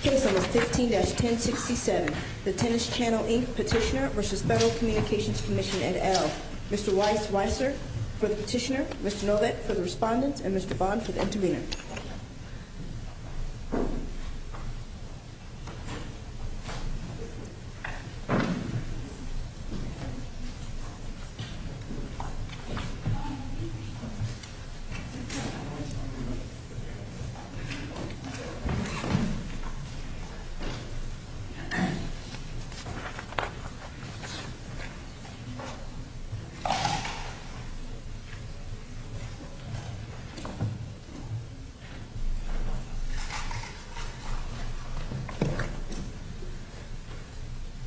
Case No. 15-1067, The Tennis Channel, Inc. Petitioner v. Federal Communications Commission et al. Mr. Weiss-Weisser for the petitioner, Mr. Novak for the respondent, and Mr. Bond for the intervener. Mr. Weiss-Weisser.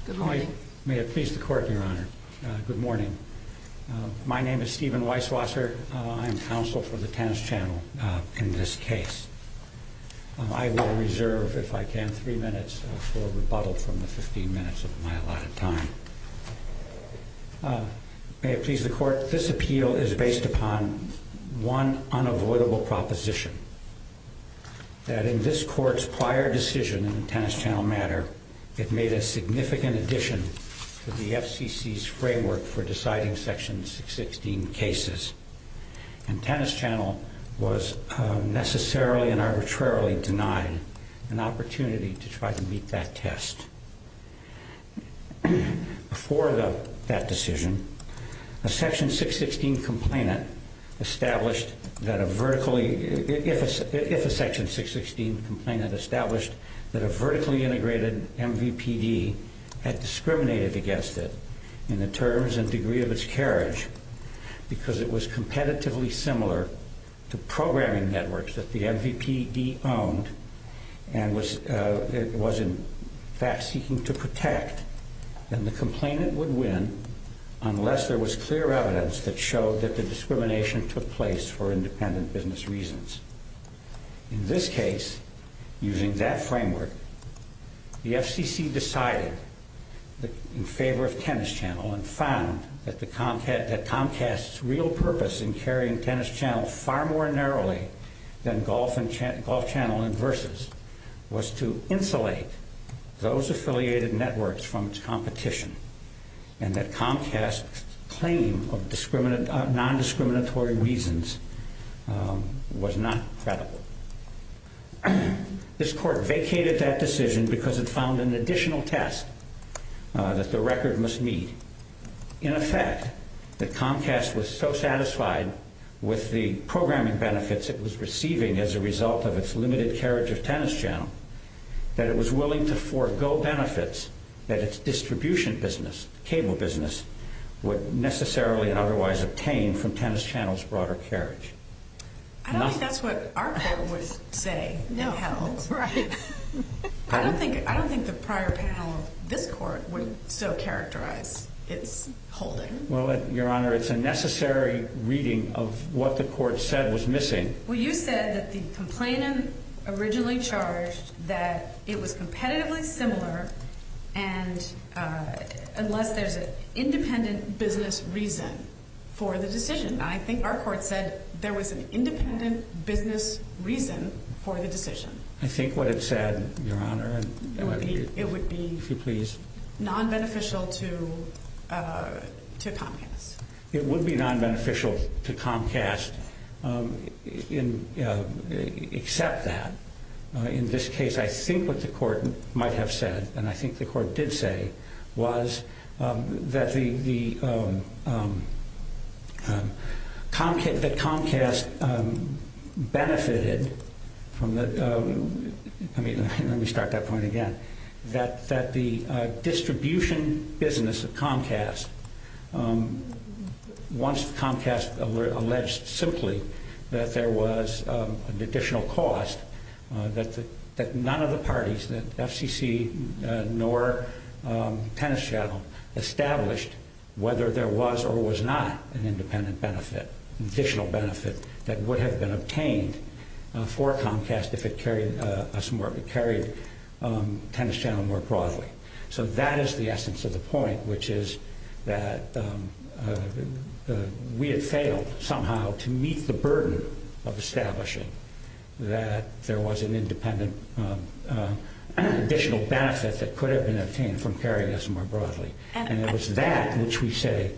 Good morning. May it please the Court, Your Honor. Good morning. My name is Stephen Weiss-Weisser. I'm counsel for the Tennis Channel in this case. I will reserve, if I can, three minutes for rebuttal from the 15 minutes of my allotted time. May it please the Court, this appeal is based upon one unavoidable proposition, that in this Court's prior decision in the Tennis Channel matter, it made a significant addition to the FCC's framework for deciding Section 616 cases. And Tennis Channel was necessarily and arbitrarily denied an opportunity to try to meet that test. Before that decision, if a Section 616 complainant established that a vertically integrated MVPD had discriminated against it in the terms and degree of its carriage, because it was competitively similar to programming networks that the MVPD owned and was in fact seeking to protect, then the complainant would win unless there was clear evidence that showed that the discrimination took place for independent business reasons. In this case, using that framework, the FCC decided in favor of Tennis Channel and found that Comcast's real purpose in carrying Tennis Channel far more narrowly than Golf Channel and Versus was to insulate those affiliated networks from its competition and that Comcast's claim of non-discriminatory reasons was not credible. This Court vacated that decision because it found an additional test that the record must meet. In effect, that Comcast was so satisfied with the programming benefits it was receiving as a result of its limited carriage of Tennis Channel that it was willing to forego benefits that its distribution business, cable business, would necessarily and otherwise obtain from Tennis Channel's broader carriage. I don't think that's what our Court would say. No, that's right. I don't think the prior panel of this Court would so characterize its holding. Well, Your Honor, it's a necessary reading of what the Court said was missing. Well, you said that the complainant originally charged that it was competitively similar unless there's an independent business reason for the decision. I think our Court said there was an independent business reason for the decision. I think what it said, Your Honor, it would be non-beneficial to Comcast. It would be non-beneficial to Comcast except that. In this case, I think what the Court might have said, and I think the Court did say, was that the distribution business of Comcast, once Comcast alleged simply that there was an additional cost, that none of the parties, FCC nor Tennis Channel, established whether there was or was not an independent benefit, additional benefit that would have been obtained for Comcast if it carried Tennis Channel more broadly. So that is the essence of the point, which is that we had failed somehow to meet the burden of establishing that there was an independent additional benefit that could have been obtained from carrying us more broadly. And it was that which we say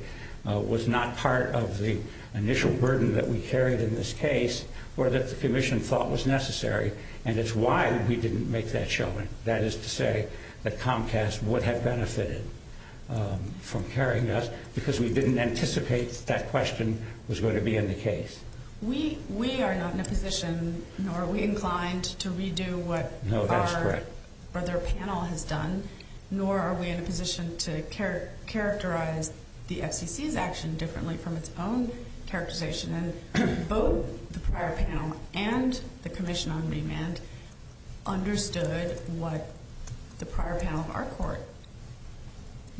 was not part of the initial burden that we carried in this case or that the Commission thought was necessary, and it's why we didn't make that showing. That is to say that Comcast would have benefited from carrying us because we didn't anticipate that question was going to be in the case. We are not in a position, nor are we inclined to redo what our other panel has done, nor are we in a position to characterize the FCC's action differently from its own characterization. Both the prior panel and the Commission on Remand understood what the prior panel of our court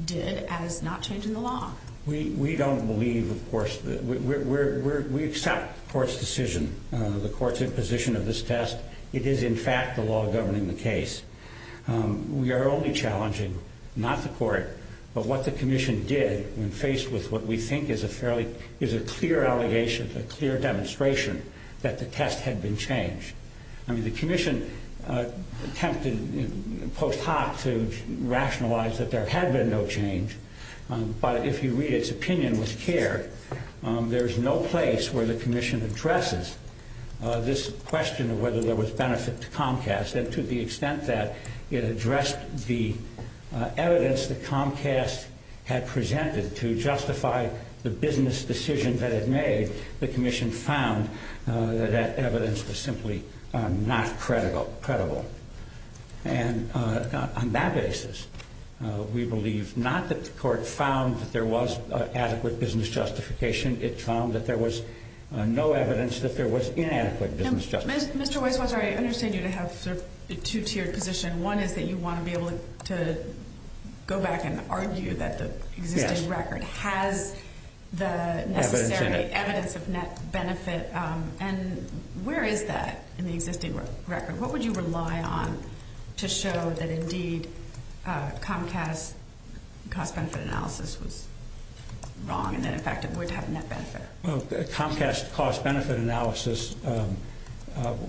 did as not changing the law. We don't believe, of course, we accept the court's decision, the court's imposition of this test. It is, in fact, the law governing the case. We are only challenging not the court, but what the Commission did when faced with what we think is a clear allegation, a clear demonstration that the test had been changed. I mean, the Commission attempted post hoc to rationalize that there had been no change, but if you read its opinion with care, there's no place where the Commission addresses this question of whether there was benefit to Comcast, and to the extent that it addressed the evidence that Comcast had presented to justify the business decision that it made, the Commission found that that evidence was simply not credible. And on that basis, we believe not that the court found that there was adequate business justification. In addition, it found that there was no evidence that there was inadequate business justification. Mr. Weiswasser, I understand you to have a two-tiered position. One is that you want to be able to go back and argue that the existing record has the necessary evidence of net benefit. And where is that in the existing record? What would you rely on to show that, indeed, Comcast's cost-benefit analysis was wrong, and that, in fact, it would have net benefit? Well, Comcast's cost-benefit analysis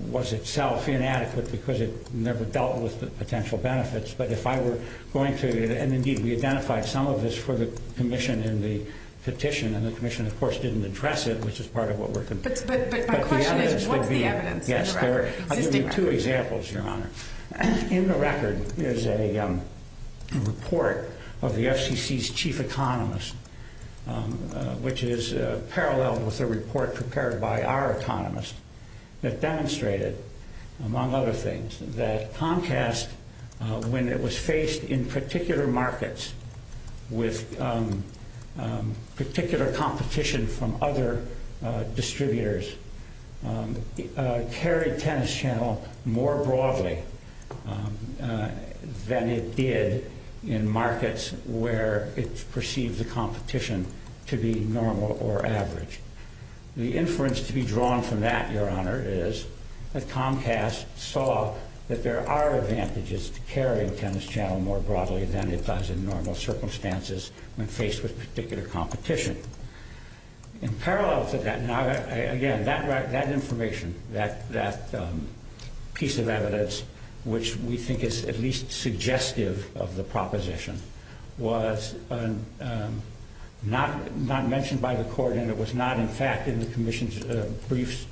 was itself inadequate because it never dealt with the potential benefits. But if I were going to – and, indeed, we identified some of this for the Commission in the petition, and the Commission, of course, didn't address it, which is part of what we're – But my question is, what's the evidence in the record? I'll give you two examples, Your Honor. In the record is a report of the FCC's chief economist, which is paralleled with a report prepared by our economist, that demonstrated, among other things, that Comcast, when it was faced in particular markets with particular competition from other distributors, carried Tennis Channel more broadly than it did in markets where it perceived the competition to be normal or average. The inference to be drawn from that, Your Honor, is that Comcast saw that there are advantages to carrying Tennis Channel more broadly than it does in normal circumstances when faced with particular competition. In parallel to that, now, again, that information, that piece of evidence, which we think is at least suggestive of the proposition, was not mentioned by the Court, and it was not, in fact, in the Commission's briefs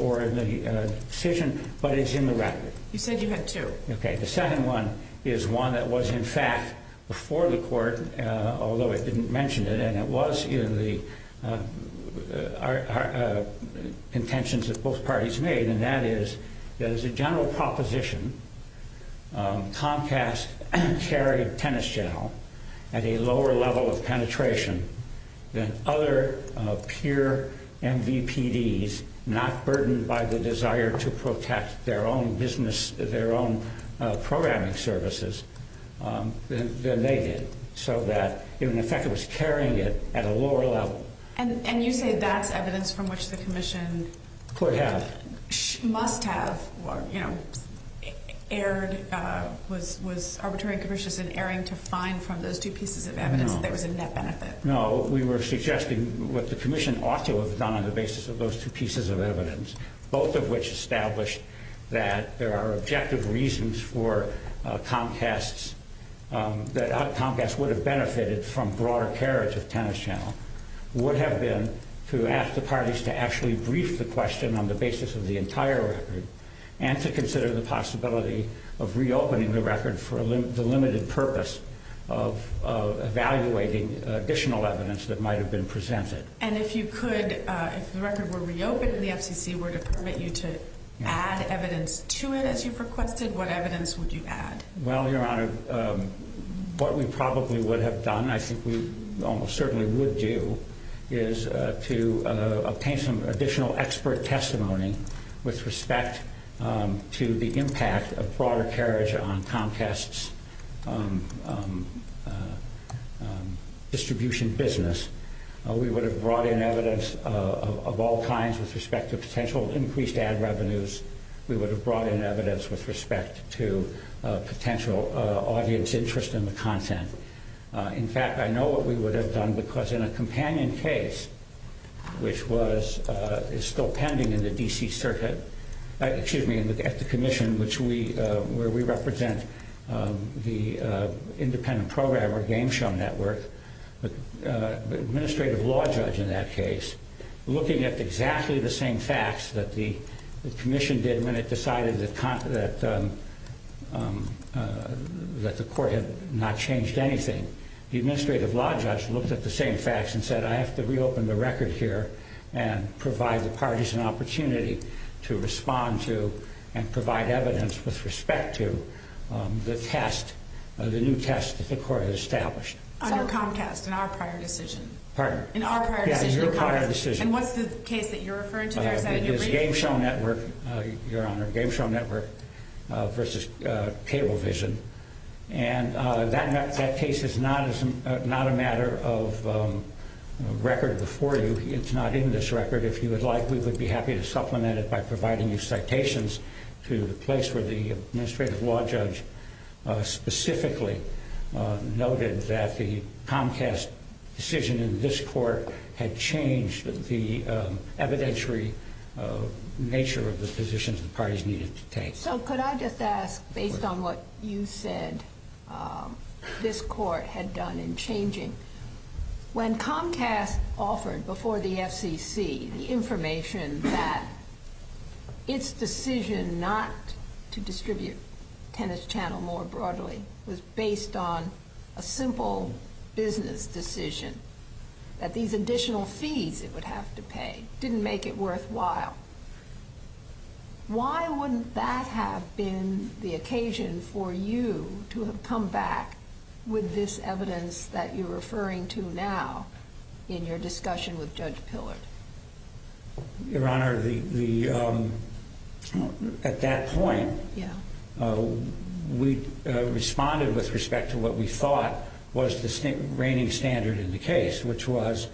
or in the decision, but it's in the record. You said you had two. Okay. The second one is one that was, in fact, before the Court, although it didn't mention it, and it was in the contentions that both parties made, and that is that as a general proposition, Comcast carried Tennis Channel at a lower level of penetration than other pure MVPDs, not burdened by the desire to protect their own business, their own programming services, than they did. So that, in effect, it was carrying it at a lower level. And you say that's evidence from which the Commission must have, you know, erred, was arbitrary and capricious in erring to find from those two pieces of evidence that there was a net benefit. No, we were suggesting what the Commission ought to have done on the basis of those two pieces of evidence, both of which established that there are objective reasons for Comcast's, that Comcast would have benefited from broader carriage of Tennis Channel, would have been to ask the parties to actually brief the question on the basis of the entire record and to consider the possibility of reopening the record for the limited purpose of evaluating additional evidence that might have been presented. And if you could, if the record were reopened and the FCC were to permit you to add evidence to it, as you've requested, what evidence would you add? Well, Your Honor, what we probably would have done, I think we almost certainly would do, is to obtain some additional expert testimony with respect to the impact of broader carriage on Comcast's distribution business. We would have brought in evidence of all kinds with respect to potential increased ad revenues. We would have brought in evidence with respect to potential audience interest in the content. In fact, I know what we would have done, because in a companion case, which is still pending in the D.C. Circuit, excuse me, at the Commission, where we represent the independent program or Game Show Network, the administrative law judge in that case, looking at exactly the same facts that the Commission did when it decided that the court had not changed anything, the administrative law judge looked at the same facts and said, I have to reopen the record here and provide the parties an opportunity to respond to and provide evidence with respect to the test, the new test that the court has established. On your Comcast, in our prior decision? Pardon? In our prior decision. Yes, your prior decision. And what's the case that you're referring to there? It is Game Show Network, your Honor, Game Show Network versus Cablevision. And that case is not a matter of record before you. It's not in this record. If you would like, we would be happy to supplement it by providing you citations to the place where the administrative law judge specifically noted that the Comcast decision in this court had changed the evidentiary nature of the positions the parties needed to take. So could I just ask, based on what you said this court had done in changing, when Comcast offered before the FCC the information that its decision not to distribute Tennis Channel more broadly was based on a simple business decision, that these additional fees it would have to pay didn't make it worthwhile, why wouldn't that have been the occasion for you to have come back with this evidence that you're referring to now in your discussion with Judge Pillard? Your Honor, at that point, we responded with respect to what we thought was the reigning standard in the case, which was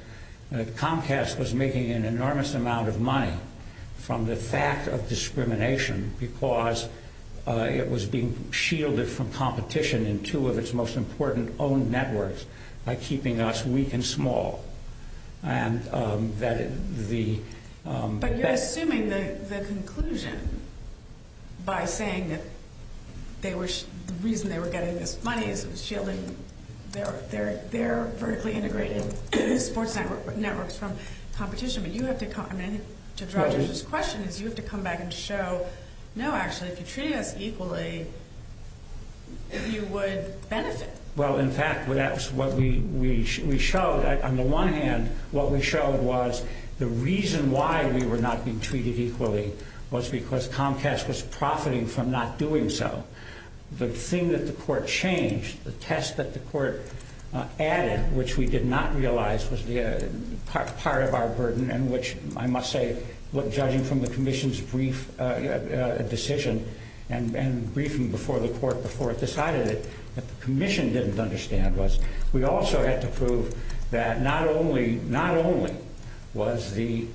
that Comcast was making an enormous amount of money from the fact of discrimination because it was being shielded from competition in two of its most important owned networks by keeping us weak and small. But you're assuming the conclusion by saying that the reason they were getting this money is it was shielding their vertically integrated sports networks from competition, but you have to come back and show, no actually, if you're treating us equally, you would benefit. Well, in fact, that's what we showed. On the one hand, what we showed was the reason why we were not being treated equally was because Comcast was profiting from not doing so. The thing that the court changed, the test that the court added, which we did not realize was part of our burden, and which, I must say, judging from the commission's brief decision and briefing before the court before it decided it, what the commission didn't understand was we also had to prove that not only was the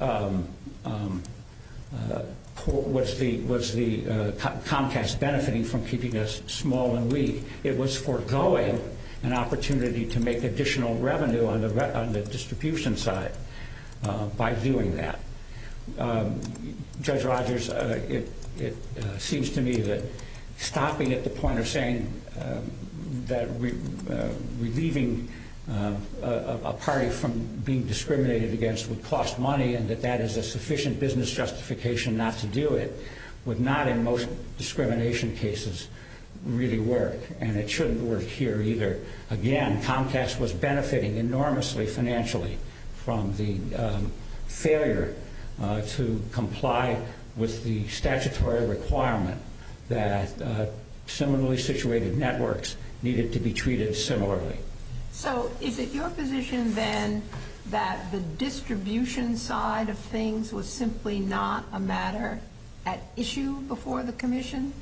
Comcast benefiting from keeping us small and weak, it was foregoing an opportunity to make additional revenue on the distribution side by doing that. Judge Rogers, it seems to me that stopping at the point of saying that relieving a party from being discriminated against would cost money and that that is a sufficient business justification not to do it would not, in most discrimination cases, really work, and it shouldn't work here either. Again, Comcast was benefiting enormously financially from the failure to comply with the statutory requirement that similarly situated networks needed to be treated similarly. So is it your position, then, that the distribution side of things was simply not a matter at issue before the commission?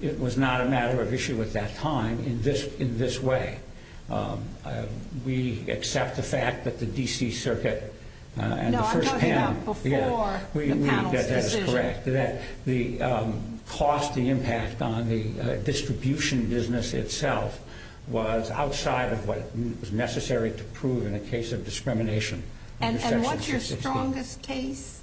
It was not a matter of issue at that time in this way. We accept the fact that the D.C. Circuit and the first panel... No, I'm talking about before the panel's decision. That is correct, that the cost, the impact on the distribution business itself was outside of what was necessary to prove in a case of discrimination. And what's your strongest case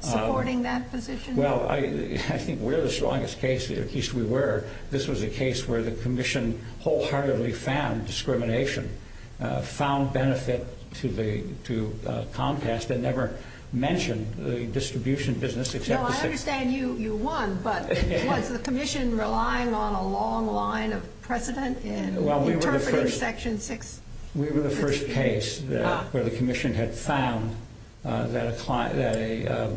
supporting that position? Well, I think we're the strongest case, at least we were. This was a case where the commission wholeheartedly found discrimination, found benefit to Comcast, and never mentioned the distribution business. No, I understand you won, but was the commission relying on a long line of precedent in interpreting Section 6? We were the first case where the commission had found that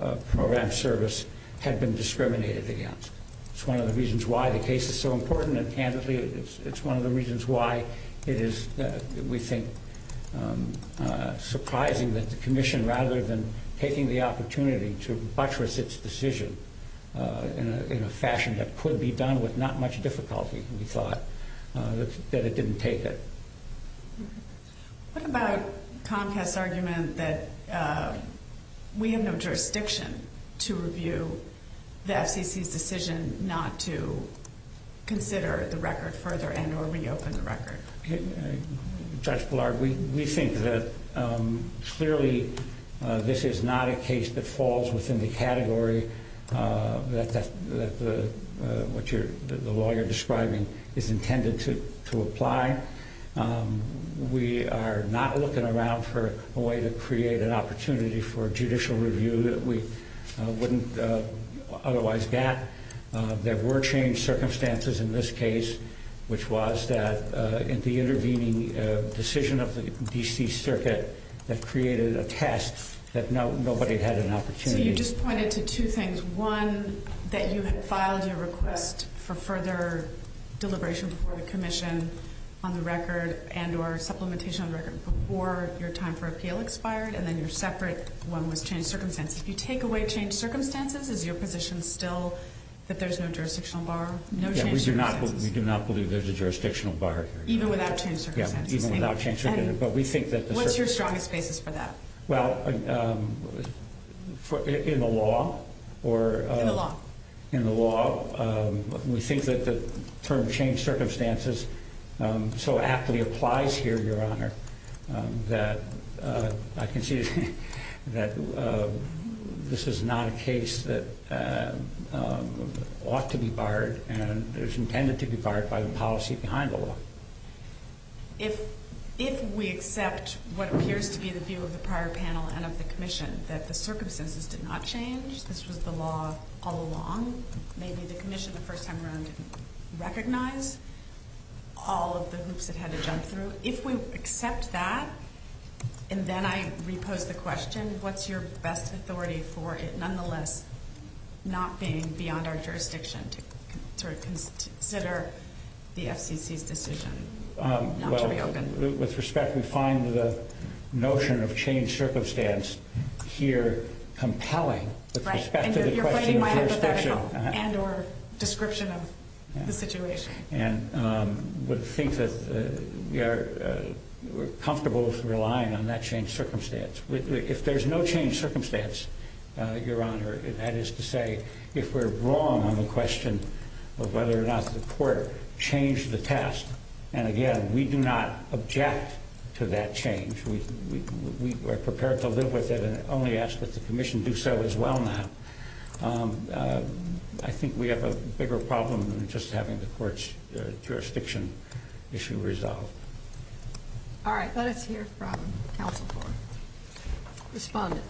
a program service had been discriminated against. It's one of the reasons why the case is so important, and candidly, it's one of the reasons why it is, we think, surprising that the commission, rather than taking the opportunity to buttress its decision in a fashion that could be done with not much difficulty, we thought, that it didn't take it. What about Comcast's argument that we have no jurisdiction to review the FCC's decision not to consider the record further and or reopen the record? Judge Blard, we think that clearly this is not a case that falls within the category that the law you're describing is intended to apply. We are not looking around for a way to create an opportunity for judicial review that we wouldn't otherwise get. There were changed circumstances in this case, which was that in the intervening decision of the D.C. Circuit that created a test that nobody had an opportunity. So you just pointed to two things. One, that you had filed your request for further deliberation before the commission on the record and or supplementation on the record before your time for appeal expired, and then your separate one was changed circumstances. If you take away changed circumstances, is your position still that there's no jurisdictional bar? No changed circumstances. We do not believe there's a jurisdictional bar. Even without changed circumstances? Even without changed circumstances. What's your strongest basis for that? Well, in the law, we think that the term changed circumstances so aptly applies here, Your Honor, that I can see that this is not a case that ought to be barred and is intended to be barred by the policy behind the law. If we accept what appears to be the view of the prior panel and of the commission, that the circumstances did not change, this was the law all along, maybe the commission the first time around didn't recognize all of the groups that had to jump through. If we accept that, and then I repose the question, what's your best authority for it nonetheless not being beyond our jurisdiction to sort of consider the FCC's decision not to reopen? Well, with respect, we find the notion of changed circumstance here compelling with respect to the question of jurisdiction. Right, and you're playing my hypothetical and or description of the situation. And we think that we're comfortable relying on that changed circumstance. If there's no changed circumstance, Your Honor, that is to say, if we're wrong on the question of whether or not the court changed the test, and again, we do not object to that change. We are prepared to live with it and only ask that the commission do so as well now. I think we have a bigger problem than just having the court's jurisdiction issue resolved. All right, let us hear from counsel for respondents.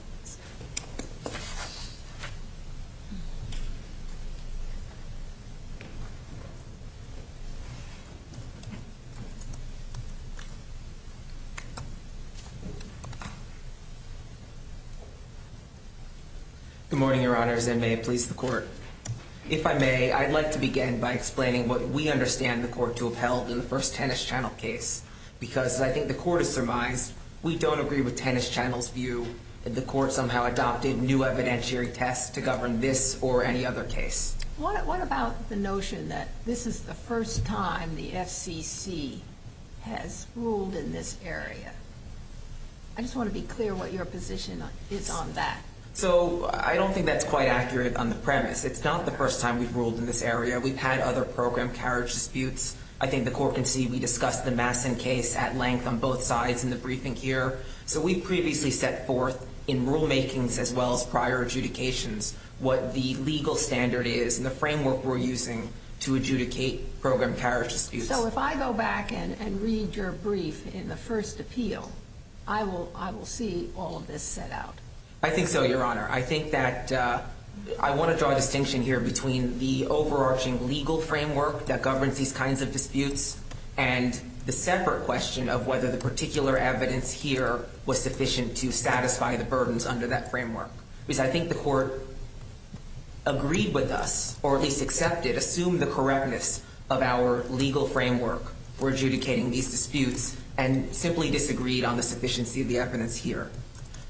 Good morning, Your Honors, and may it please the court. If I may, I'd like to begin by explaining what we understand the court to have held in the first Tennis Channel case. Because I think the court has surmised we don't agree with Tennis Channel's view that the court somehow adopted new evidentiary tests to govern this or any other case. What about the notion that this is the first time the FCC has ruled in this area? I just want to be clear what your position is on that. So I don't think that's quite accurate on the premise. It's not the first time we've ruled in this area. We've had other program carriage disputes. I think the court can see we discussed the Masson case at length on both sides in the briefing here. So we previously set forth in rulemakings as well as prior adjudications what the legal standard is and the framework we're using to adjudicate program carriage disputes. So if I go back and read your brief in the first appeal, I will see all of this set out. I think so, Your Honor. I think that I want to draw a distinction here between the overarching legal framework that governs these kinds of disputes and the separate question of whether the particular evidence here was sufficient to satisfy the burdens under that framework. Because I think the court agreed with us or at least accepted, assumed the correctness of our legal framework for adjudicating these disputes and simply disagreed on the sufficiency of the evidence here.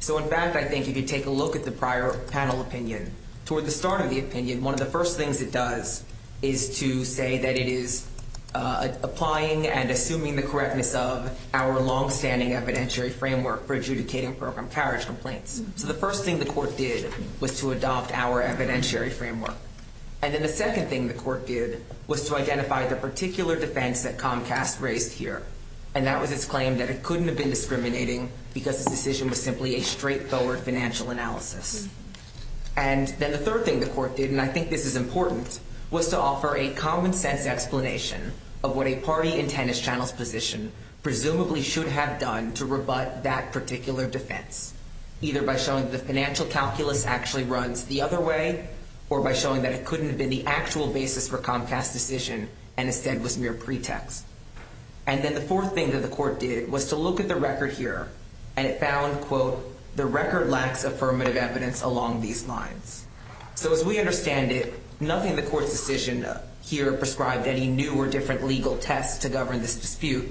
So in fact, I think if you take a look at the prior panel opinion, toward the start of the opinion, one of the first things it does is to say that it is applying and assuming the correctness of our longstanding evidentiary framework for adjudicating program carriage complaints. So the first thing the court did was to adopt our evidentiary framework. And then the second thing the court did was to identify the particular defense that Comcast raised here, and that was its claim that it couldn't have been discriminating because its decision was simply a straightforward financial analysis. And then the third thing the court did, and I think this is important, was to offer a common-sense explanation of what a party in Tennis Channel's position presumably should have done to rebut that particular defense, either by showing the financial calculus actually runs the other way or by showing that it couldn't have been the actual basis for Comcast's decision and instead was mere pretext. And then the fourth thing that the court did was to look at the record here, and it found, quote, the record lacks affirmative evidence along these lines. So as we understand it, nothing in the court's decision here prescribed any new or different legal test to govern this dispute.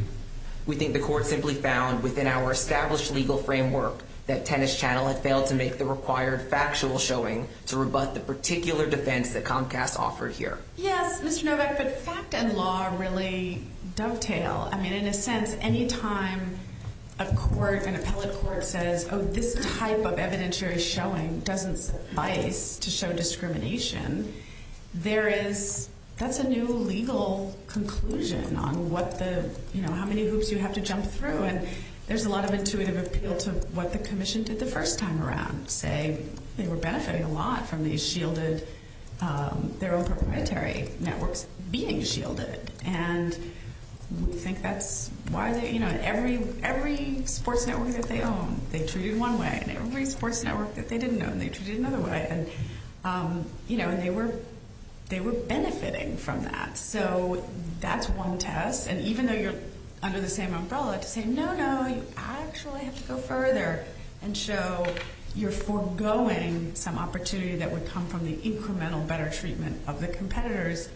We think the court simply found within our established legal framework that Tennis Channel had failed to make the required factual showing to rebut the particular defense that Comcast offered here. Yes, Mr. Novak, but fact and law really dovetail. I mean, in a sense, any time a court, an appellate court, says, oh, this type of evidentiary showing doesn't suffice to show discrimination, there is, that's a new legal conclusion on what the, you know, how many hoops you have to jump through. And there's a lot of intuitive appeal to what the commission did the first time around, say they were benefiting a lot from these shielded, their own proprietary networks being shielded. And we think that's why they, you know, every sports network that they own, they treated one way. And every sports network that they didn't own, they treated another way. And, you know, and they were benefiting from that. So that's one test. And even though you're under the same umbrella to say, no, no, you actually have to go further and show you're foregoing some opportunity that would come from the incremental better treatment of the competitors,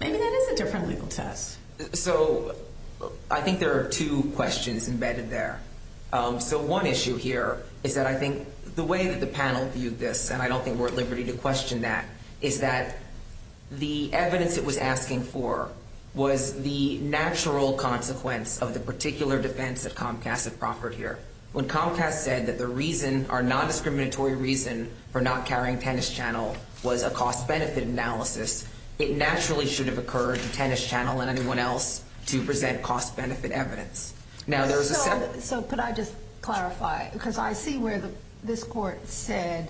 maybe that is a different legal test. So I think there are two questions embedded there. So one issue here is that I think the way that the panel viewed this, and I don't think we're at liberty to question that, is that the evidence it was asking for was the natural consequence of the particular defense that Comcast had proffered here. When Comcast said that the reason, our non-discriminatory reason for not carrying Tennis Channel was a cost-benefit analysis, it naturally should have occurred to Tennis Channel and anyone else to present cost-benefit evidence. So could I just clarify? Because I see where this Court said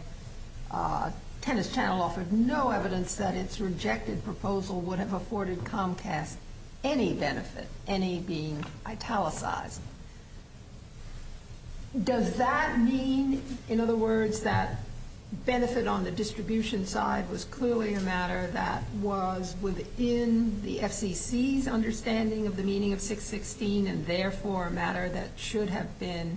Tennis Channel offered no evidence that its rejected proposal would have afforded Comcast any benefit, any being italicized. Does that mean, in other words, that benefit on the distribution side was clearly a matter that was within the FCC's understanding of the meaning of 616 and therefore a matter that should have been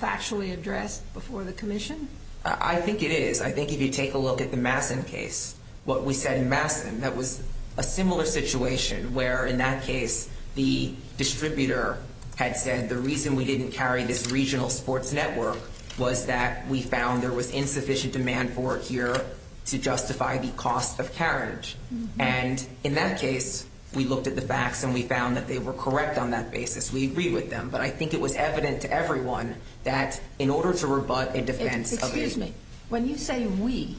factually addressed before the Commission? I think it is. I think if you take a look at the Masson case, what we said in Masson, that was a similar situation where in that case the distributor had said the reason we didn't carry this regional sports network was that we found there was insufficient demand for it here to justify the cost of carriage. And in that case, we looked at the facts and we found that they were correct on that basis. We agreed with them. But I think it was evident to everyone that in order to rebut a defense of a… Excuse me. When you say we,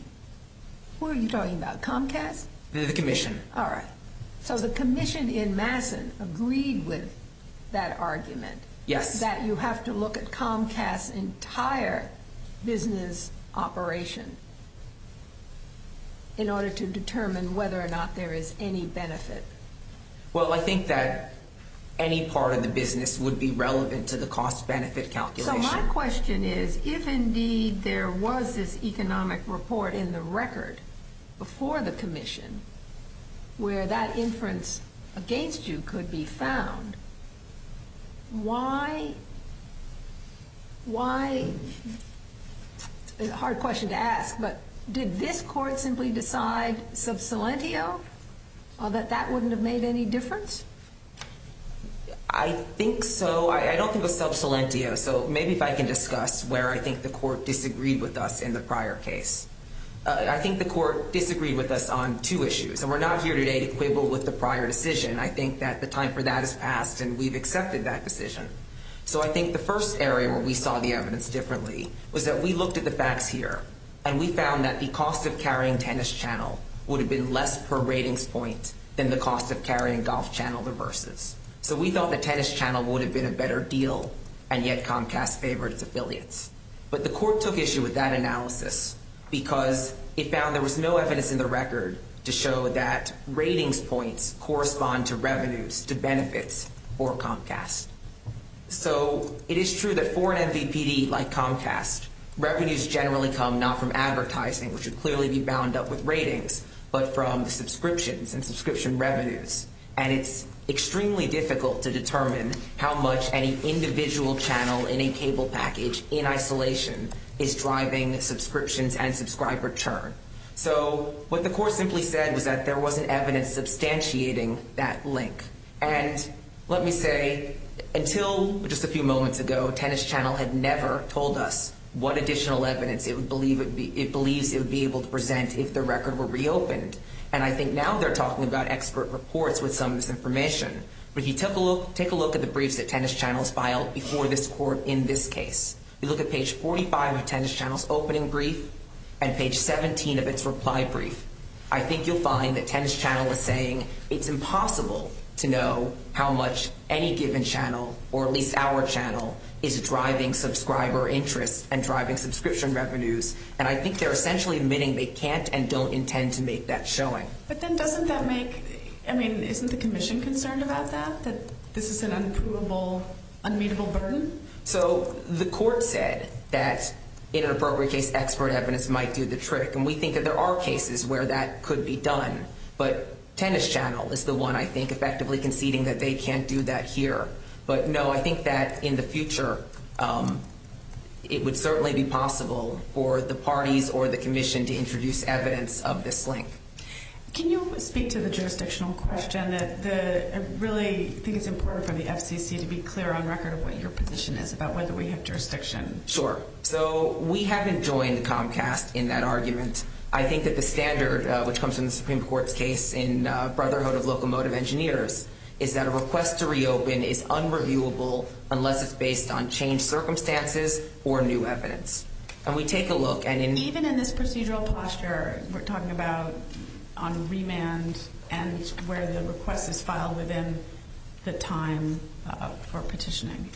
who are you talking about? Comcast? The Commission. All right. So the Commission in Masson agreed with that argument? Yes. That you have to look at Comcast's entire business operation in order to determine whether or not there is any benefit? Well, I think that any part of the business would be relevant to the cost-benefit calculation. So my question is, if indeed there was this economic report in the record before the Commission where that inference against you could be found, why… It's a hard question to ask, but did this court simply decide sub salientio, that that wouldn't have made any difference? I think so. I don't think it was sub salientio, so maybe if I can discuss where I think the court disagreed with us in the prior case. I think the court disagreed with us on two issues, and we're not here today to quibble with the prior decision. I think that the time for that has passed, and we've accepted that decision. So I think the first area where we saw the evidence differently was that we looked at the facts here, and we found that the cost of carrying Tennis Channel would have been less per ratings point than the cost of carrying Golf Channel vs. So we thought that Tennis Channel would have been a better deal, and yet Comcast favored its affiliates. But the court took issue with that analysis because it found there was no evidence in the record to show that ratings points correspond to revenues to benefits for Comcast. So it is true that for an MVPD like Comcast, revenues generally come not from advertising, which would clearly be bound up with ratings, but from the subscriptions and subscription revenues. And it's extremely difficult to determine how much any individual channel in a cable package in isolation is driving subscriptions and subscriber churn. So what the court simply said was that there wasn't evidence substantiating that link. And let me say, until just a few moments ago, Tennis Channel had never told us what additional evidence it believes it would be able to present if the record were reopened. And I think now they're talking about expert reports with some of this information. But if you take a look at the briefs that Tennis Channel has filed before this court in this case, you look at page 45 of Tennis Channel's opening brief and page 17 of its reply brief, I think you'll find that Tennis Channel is saying it's impossible to know how much any given channel, or at least our channel, is driving subscriber interest and driving subscription revenues. And I think they're essentially admitting they can't and don't intend to make that showing. But then doesn't that make, I mean, isn't the commission concerned about that, that this is an unprovable, unmeasurable burden? So the court said that in an appropriate case, expert evidence might do the trick. And we think that there are cases where that could be done. But Tennis Channel is the one, I think, effectively conceding that they can't do that here. But, no, I think that in the future it would certainly be possible for the parties or the commission to introduce evidence of this link. Can you speak to the jurisdictional question? I really think it's important for the FCC to be clear on record of what your position is about whether we have jurisdiction. Sure. So we haven't joined Comcast in that argument. I think that the standard which comes from the Supreme Court's case in Brotherhood of Locomotive Engineers is that a request to reopen is unreviewable unless it's based on changed circumstances or new evidence. And we take a look. Even in this procedural posture, we're talking about on remand and where the request is filed within the time for petitioning.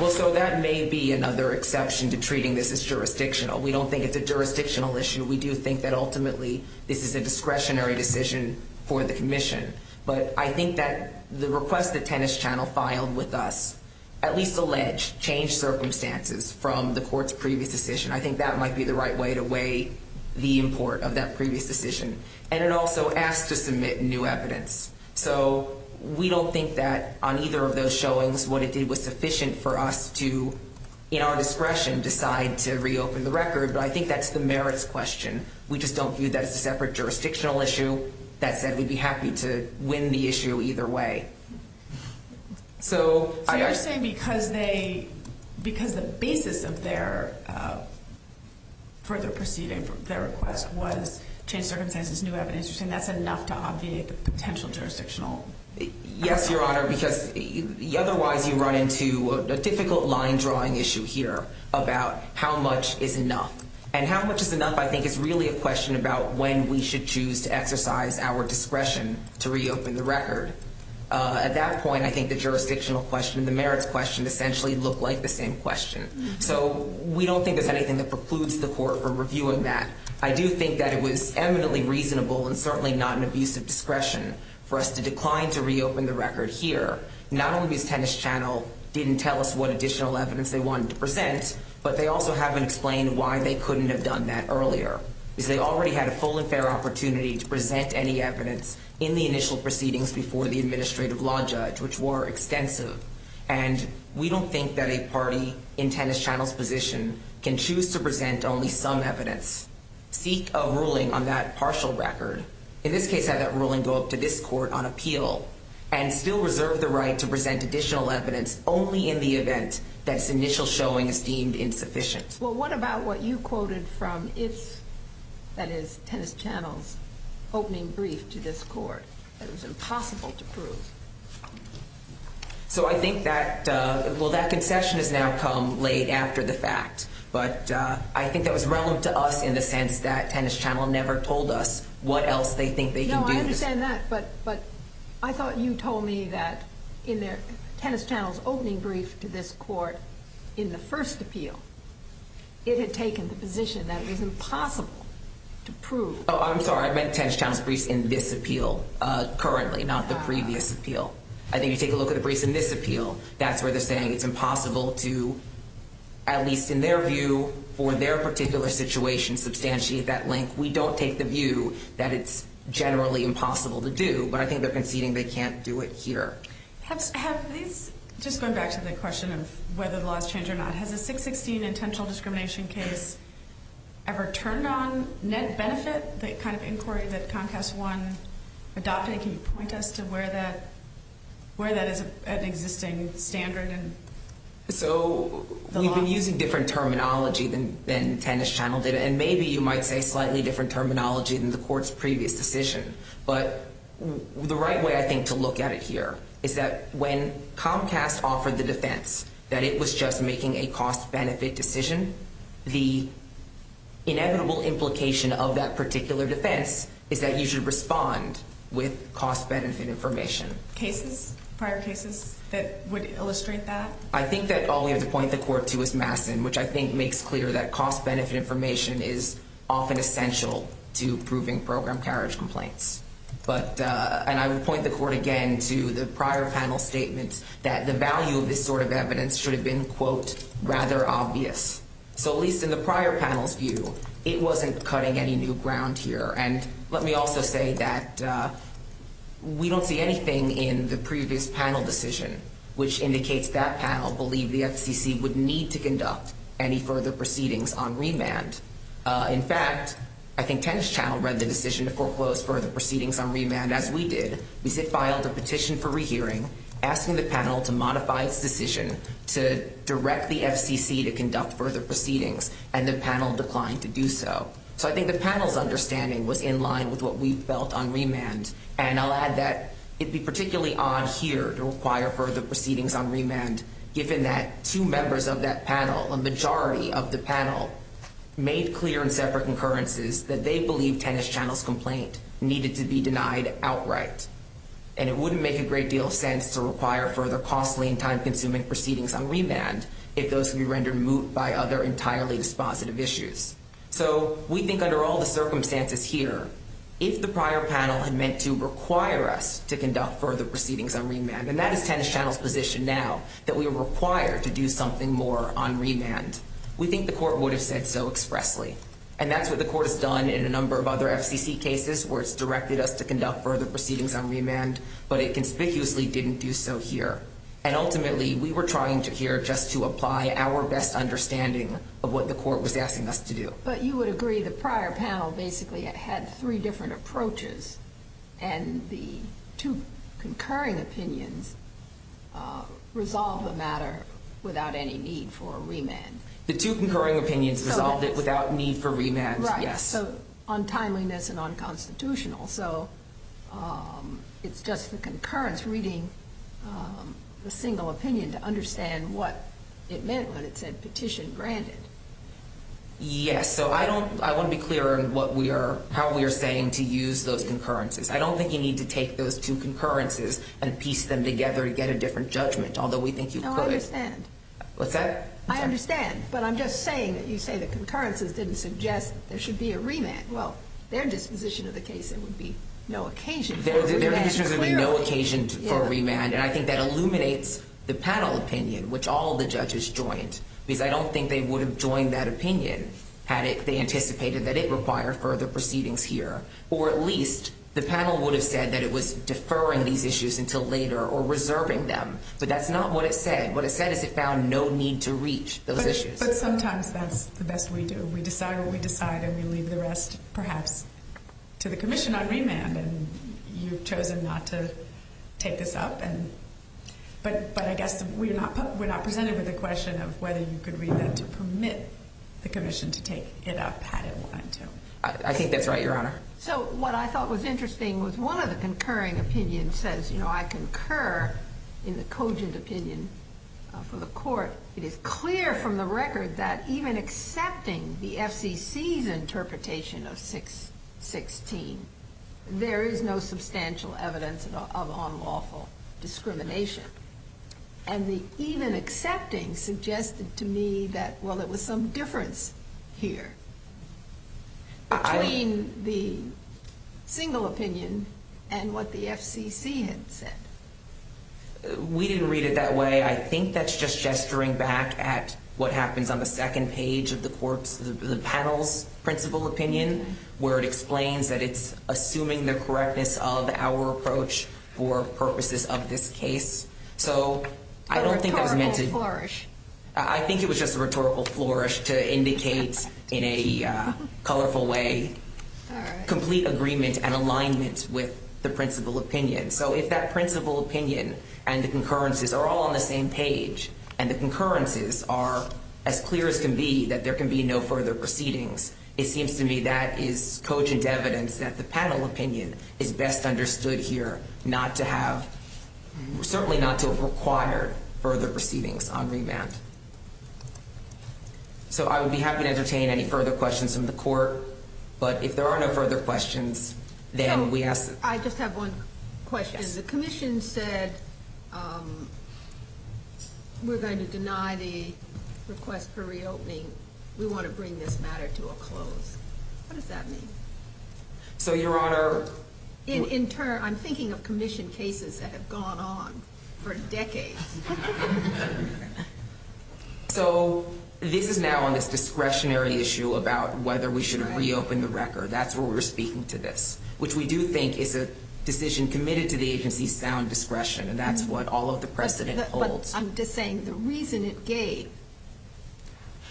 Well, so that may be another exception to treating this as jurisdictional. We don't think it's a jurisdictional issue. We do think that ultimately this is a discretionary decision for the commission. But I think that the request that Tennis Channel filed with us at least alleged changed circumstances from the court's previous decision. I think that might be the right way to weigh the import of that previous decision. And it also asked to submit new evidence. So we don't think that on either of those showings what it did was sufficient for us to, in our discretion, decide to reopen the record. But I think that's the merits question. We just don't view that as a separate jurisdictional issue. That said, we'd be happy to win the issue either way. So you're saying because the basis of their further proceeding for their request was changed circumstances, new evidence, you're saying that's enough to obviate the potential jurisdictional? Yes, Your Honor, because otherwise you run into a difficult line-drawing issue here about how much is enough. And how much is enough, I think, is really a question about when we should choose to exercise our discretion to reopen the record. At that point, I think the jurisdictional question and the merits question essentially look like the same question. So we don't think there's anything that precludes the court from reviewing that. I do think that it was eminently reasonable and certainly not an abuse of discretion for us to decline to reopen the record here. Not only because Tennis Channel didn't tell us what additional evidence they wanted to present, but they also haven't explained why they couldn't have done that earlier. Because they already had a full and fair opportunity to present any evidence in the initial proceedings before the administrative law judge, which were extensive. And we don't think that a party in Tennis Channel's position can choose to present only some evidence, seek a ruling on that partial record, in this case have that ruling go up to this court on appeal, and still reserve the right to present additional evidence only in the event that its initial showing is deemed insufficient. Well, what about what you quoted from its, that is, Tennis Channel's opening brief to this court, that it was impossible to prove? So I think that, well, that concession has now come late after the fact. But I think that was relevant to us in the sense that Tennis Channel never told us what else they think they can do. No, I understand that, but I thought you told me that in Tennis Channel's opening brief to this court in the first appeal, it had taken the position that it was impossible to prove. Oh, I'm sorry. I meant Tennis Channel's briefs in this appeal currently, not the previous appeal. I think if you take a look at the briefs in this appeal, that's where they're saying it's impossible to, at least in their view, for their particular situation, substantiate that link. We don't take the view that it's generally impossible to do, but I think they're conceding they can't do it here. Have these, just going back to the question of whether the laws change or not, has a 616 intentional discrimination case ever turned on net benefit, the kind of inquiry that Comcast 1 adopted? Can you point us to where that is an existing standard? So we've been using different terminology than Tennis Channel did, and maybe you might say slightly different terminology than the court's previous decision. But the right way, I think, to look at it here is that when Comcast offered the defense that it was just making a cost-benefit decision, the inevitable implication of that particular defense is that you should respond with cost-benefit information. Cases? Prior cases that would illustrate that? I think that all we have to point the court to is Masson, which I think makes clear that cost-benefit information is often essential to proving program carriage complaints. And I would point the court again to the prior panel statement that the value of this sort of evidence should have been, quote, rather obvious. So at least in the prior panel's view, it wasn't cutting any new ground here. And let me also say that we don't see anything in the previous panel decision which indicates that panel believed the FCC would need to conduct any further proceedings on remand. In fact, I think Tennis Channel read the decision to foreclose further proceedings on remand as we did. We filed a petition for rehearing, asking the panel to modify its decision to direct the FCC to conduct further proceedings, and the panel declined to do so. So I think the panel's understanding was in line with what we felt on remand. And I'll add that it'd be particularly odd here to require further proceedings on remand, given that two members of that panel, a majority of the panel, made clear in separate concurrences that they believed Tennis Channel's complaint needed to be denied outright. And it wouldn't make a great deal of sense to require further costly and time-consuming proceedings on remand if those could be rendered moot by other entirely dispositive issues. So we think under all the circumstances here, if the prior panel had meant to require us to conduct further proceedings on remand, and that is Tennis Channel's position now, that we are required to do something more on remand, we think the court would have said so expressly. And that's what the court has done in a number of other FCC cases where it's directed us to conduct further proceedings on remand, but it conspicuously didn't do so here. And ultimately, we were trying to here just to apply our best understanding of what the court was asking us to do. But you would agree the prior panel basically had three different approaches, and the two concurring opinions resolved the matter without any need for remand. The two concurring opinions resolved it without need for remand, yes. So on timeliness and on constitutional, so it's just the concurrence reading the single opinion to understand what it meant when it said petition granted. Yes. So I want to be clear on how we are saying to use those concurrences. I don't think you need to take those two concurrences and piece them together to get a different judgment, although we think you could. No, I understand. What's that? I understand. But I'm just saying that you say the concurrences didn't suggest there should be a remand. Well, their disposition of the case, there would be no occasion for a remand. There would be no occasion for a remand. And I think that illuminates the panel opinion, which all the judges joined, because I don't think they would have joined that opinion had they anticipated that it required further proceedings here. Or at least the panel would have said that it was deferring these issues until later or reserving them. But that's not what it said. What it said is it found no need to reach those issues. But sometimes that's the best we do. We decide what we decide, and we leave the rest perhaps to the commission on remand. And you've chosen not to take this up. But I guess we're not presented with a question of whether you could read that to permit the commission to take it up had it wanted to. I think that's right, Your Honor. So what I thought was interesting was one of the concurring opinions says, you know, I concur in the cogent opinion for the court. It is clear from the record that even accepting the FCC's interpretation of 616, there is no substantial evidence of unlawful discrimination. And the even accepting suggested to me that, well, there was some difference here between the single opinion and what the FCC had said. We didn't read it that way. I think that's just gesturing back at what happens on the second page of the panel's principal opinion, where it explains that it's assuming the correctness of our approach for purposes of this case. So I don't think that was meant to ‑‑ A rhetorical flourish. I think it was just a rhetorical flourish to indicate in a colorful way complete agreement and alignment with the principal opinion. So if that principal opinion and the concurrences are all on the same page and the concurrences are as clear as can be that there can be no further proceedings, it seems to me that is cogent evidence that the panel opinion is best understood here not to have ‑‑ certainly not to require further proceedings on remand. So I would be happy to entertain any further questions from the court. But if there are no further questions, then we ask ‑‑ I just have one question. Yes. The commission said we're going to deny the request for reopening. We want to bring this matter to a close. What does that mean? So, Your Honor ‑‑ In turn, I'm thinking of commission cases that have gone on for decades. So this is now on this discretionary issue about whether we should reopen the record. That's where we're speaking to this. Which we do think is a decision committed to the agency's sound discretion. And that's what all of the precedent holds. But I'm just saying the reason it gave.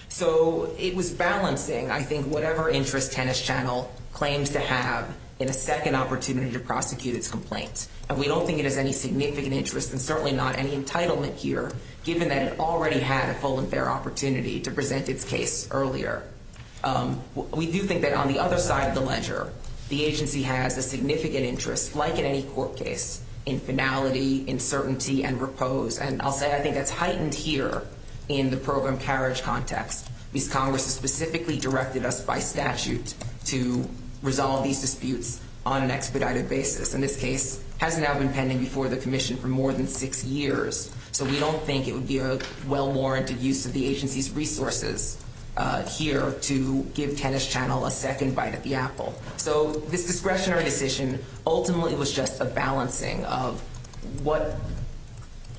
So it was balancing, I think, whatever interest Tennis Channel claims to have in a second opportunity to prosecute its complaint. And we don't think it has any significant interest and certainly not any entitlement here, given that it already had a full and fair opportunity to present its case earlier. We do think that on the other side of the ledger, the agency has a significant interest, like in any court case, in finality, in certainty, and repose. And I'll say I think that's heightened here in the program carriage context. Because Congress has specifically directed us by statute to resolve these disputes on an expedited basis. And this case has now been pending before the commission for more than six years. So we don't think it would be a well-warranted use of the agency's resources here to give Tennis Channel a second bite at the apple. So this discretionary decision ultimately was just a balancing of what,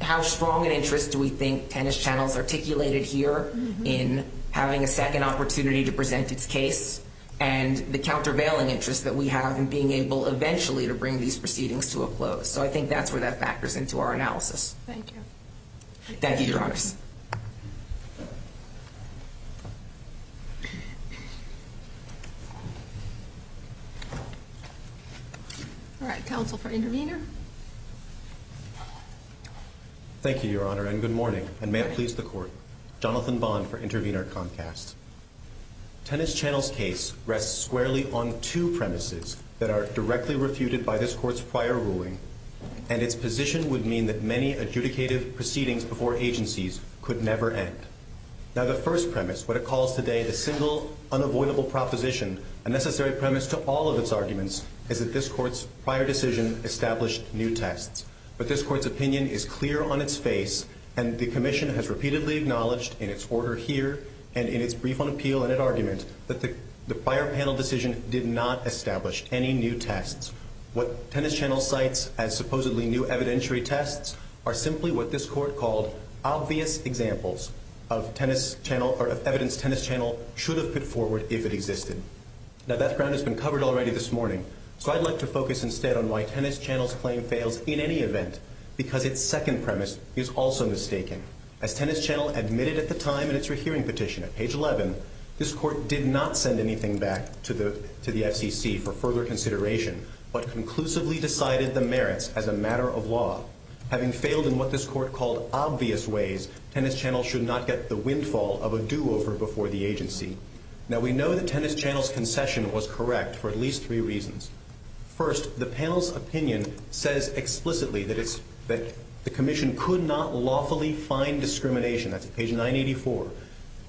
how strong an interest do we think Tennis Channel's articulated here in having a second opportunity to present its case and the countervailing interest that we have in being able eventually to bring these proceedings to a close. So I think that's where that factors into our analysis. Thank you. Thank you, Your Honor. All right, counsel for intervener. Thank you, Your Honor, and good morning. And may it please the court. Jonathan Bond for Intervener Comcast. Tennis Channel's case rests squarely on two premises that are directly refuted by this court's prior ruling. And its position would mean that many adjudicative proceedings before agencies could never end. Now, the first premise, what it calls today the single unavoidable proposition, a necessary premise to all of its arguments is that this court's prior decision established new tests. But this court's opinion is clear on its face, and the commission has repeatedly acknowledged in its order here and in its brief on appeal and at argument that the prior panel decision did not establish any new tests. What Tennis Channel cites as supposedly new evidentiary tests are simply what this court called obvious examples of evidence Tennis Channel should have put forward if it existed. Now, that ground has been covered already this morning, so I'd like to focus instead on why Tennis Channel's claim fails in any event because its second premise is also mistaken. As Tennis Channel admitted at the time in its rehearing petition at page 11, this court did not send anything back to the FCC for further consideration, but conclusively decided the merits as a matter of law. Having failed in what this court called obvious ways, Tennis Channel should not get the windfall of a do-over before the agency. Now, we know that Tennis Channel's concession was correct for at least three reasons. First, the panel's opinion says explicitly that the commission could not lawfully find discrimination. That's at page 984.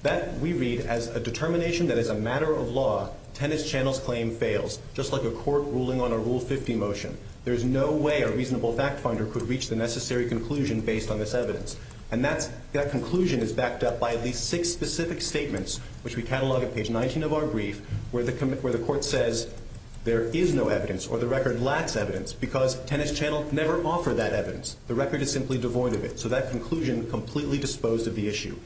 That we read as a determination that is a matter of law. Tennis Channel's claim fails, just like a court ruling on a Rule 50 motion. There is no way a reasonable fact finder could reach the necessary conclusion based on this evidence, and that conclusion is backed up by at least six specific statements, which we catalog at page 19 of our brief, where the court says there is no evidence or the record lacks evidence because Tennis Channel never offered that evidence. The record is simply devoid of it. So that conclusion completely disposed of the issue.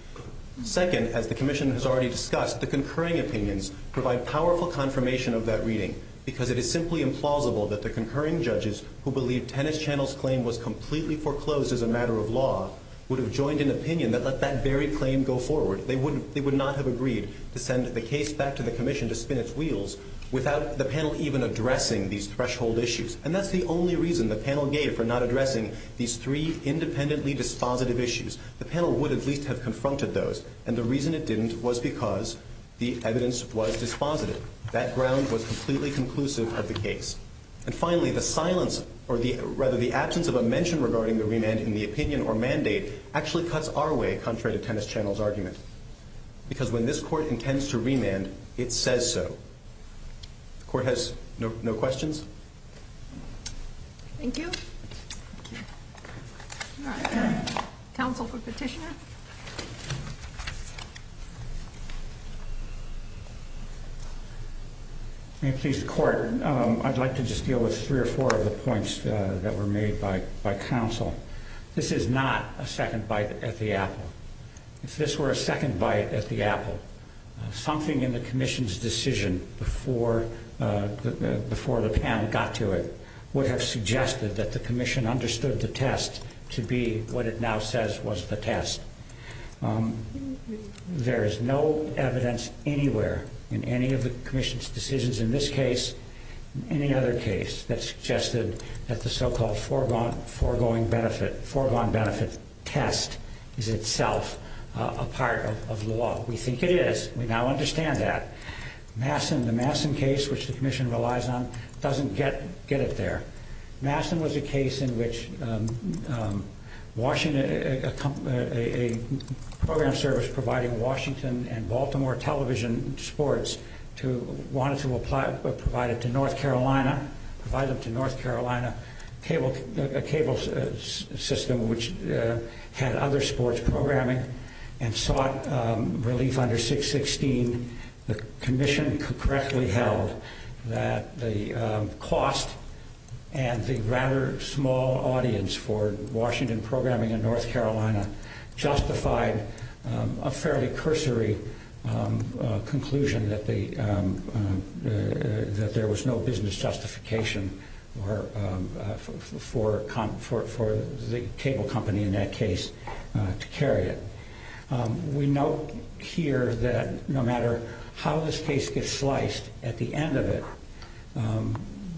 Second, as the commission has already discussed, the concurring opinions provide powerful confirmation of that reading because it is simply implausible that the concurring judges, who believe Tennis Channel's claim was completely foreclosed as a matter of law, would have joined an opinion that let that very claim go forward. They would not have agreed to send the case back to the commission to spin its wheels without the panel even addressing these threshold issues. And that's the only reason the panel gave for not addressing these three independently dispositive issues. The panel would at least have confronted those, and the reason it didn't was because the evidence was dispositive. That ground was completely conclusive of the case. And finally, the absence of a mention regarding the remand in the opinion or mandate actually cuts our way, contrary to Tennis Channel's argument, because when this court intends to remand, it says so. The court has no questions. Thank you. Counsel for petitioner. May it please the court, I'd like to just deal with three or four of the points that were made by counsel. This is not a second bite at the apple. If this were a second bite at the apple, something in the commission's decision before the panel got to it would have suggested that the commission understood the test to be what it now says was the test. There is no evidence anywhere in any of the commission's decisions in this case, any other case, that suggested that the so-called foregone benefit test is itself a part of law. We think it is. We now understand that. The Masson case, which the commission relies on, doesn't get it there. Masson was a case in which a program service providing Washington and Baltimore television sports wanted to provide it to North Carolina, a cable system which had other sports programming and sought relief under 616. The commission correctly held that the cost and the rather small audience for Washington programming in North Carolina justified a fairly cursory conclusion that there was no business justification for the cable company in that case to carry it. We note here that no matter how this case gets sliced, at the end of it,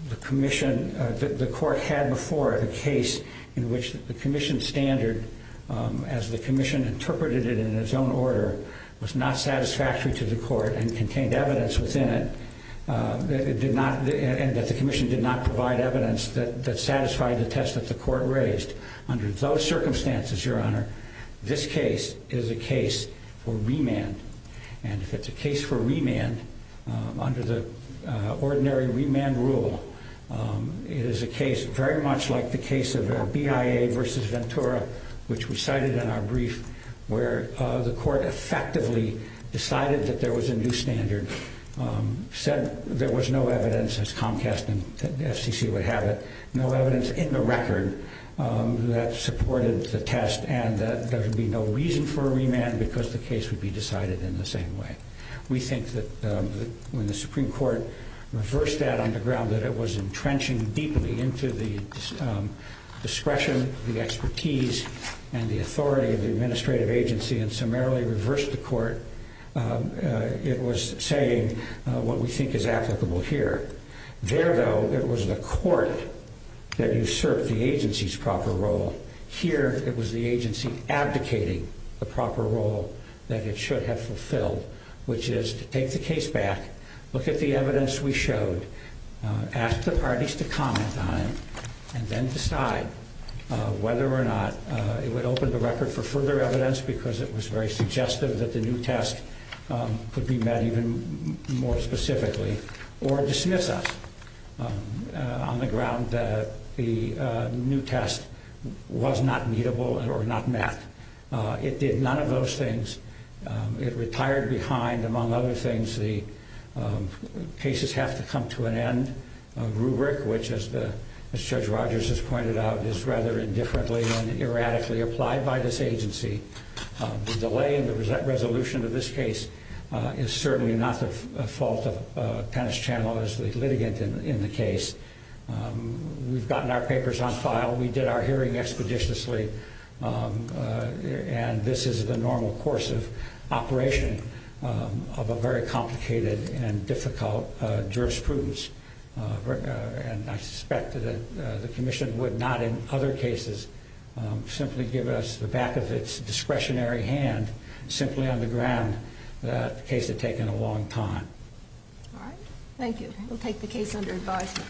the court had before it a case in which the commission standard, as the commission interpreted it in its own order, was not satisfactory to the court and contained evidence within it, and that the commission did not provide evidence that satisfied the test that the court raised. Under those circumstances, Your Honor, this case is a case for remand. And if it's a case for remand, under the ordinary remand rule, it is a case very much like the case of BIA v. Ventura, which we cited in our brief, where the court effectively decided that there was a new standard, said there was no evidence, as Comcast and FCC would have it, no evidence in the record that supported the test and that there would be no reason for a remand because the case would be decided in the same way. We think that when the Supreme Court reversed that on the ground, that it was entrenching deeply into the discretion, the expertise, and the authority of the administrative agency and summarily reversed the court. It was saying what we think is applicable here. There, though, it was the court that usurped the agency's proper role. Here, it was the agency abdicating the proper role that it should have fulfilled, which is to take the case back, look at the evidence we showed, ask the parties to comment on it, and then decide whether or not it would open the record for further evidence because it was very suggestive that the new test could be met even more specifically, or dismiss us on the ground that the new test was not meetable or not met. It did none of those things. It retired behind, among other things, the cases have to come to an end rubric, which, as Judge Rogers has pointed out, is rather indifferently and erratically applied by this agency. The delay in the resolution of this case is certainly not the fault of Penischannel as the litigant in the case. We've gotten our papers on file. We did our hearing expeditiously, and this is the normal course of operation of a very complicated and difficult jurisprudence. And I suspect that the commission would not in other cases simply give us the back of its discretionary hand simply on the ground that the case had taken a long time. All right. Thank you. We'll take the case under advisement.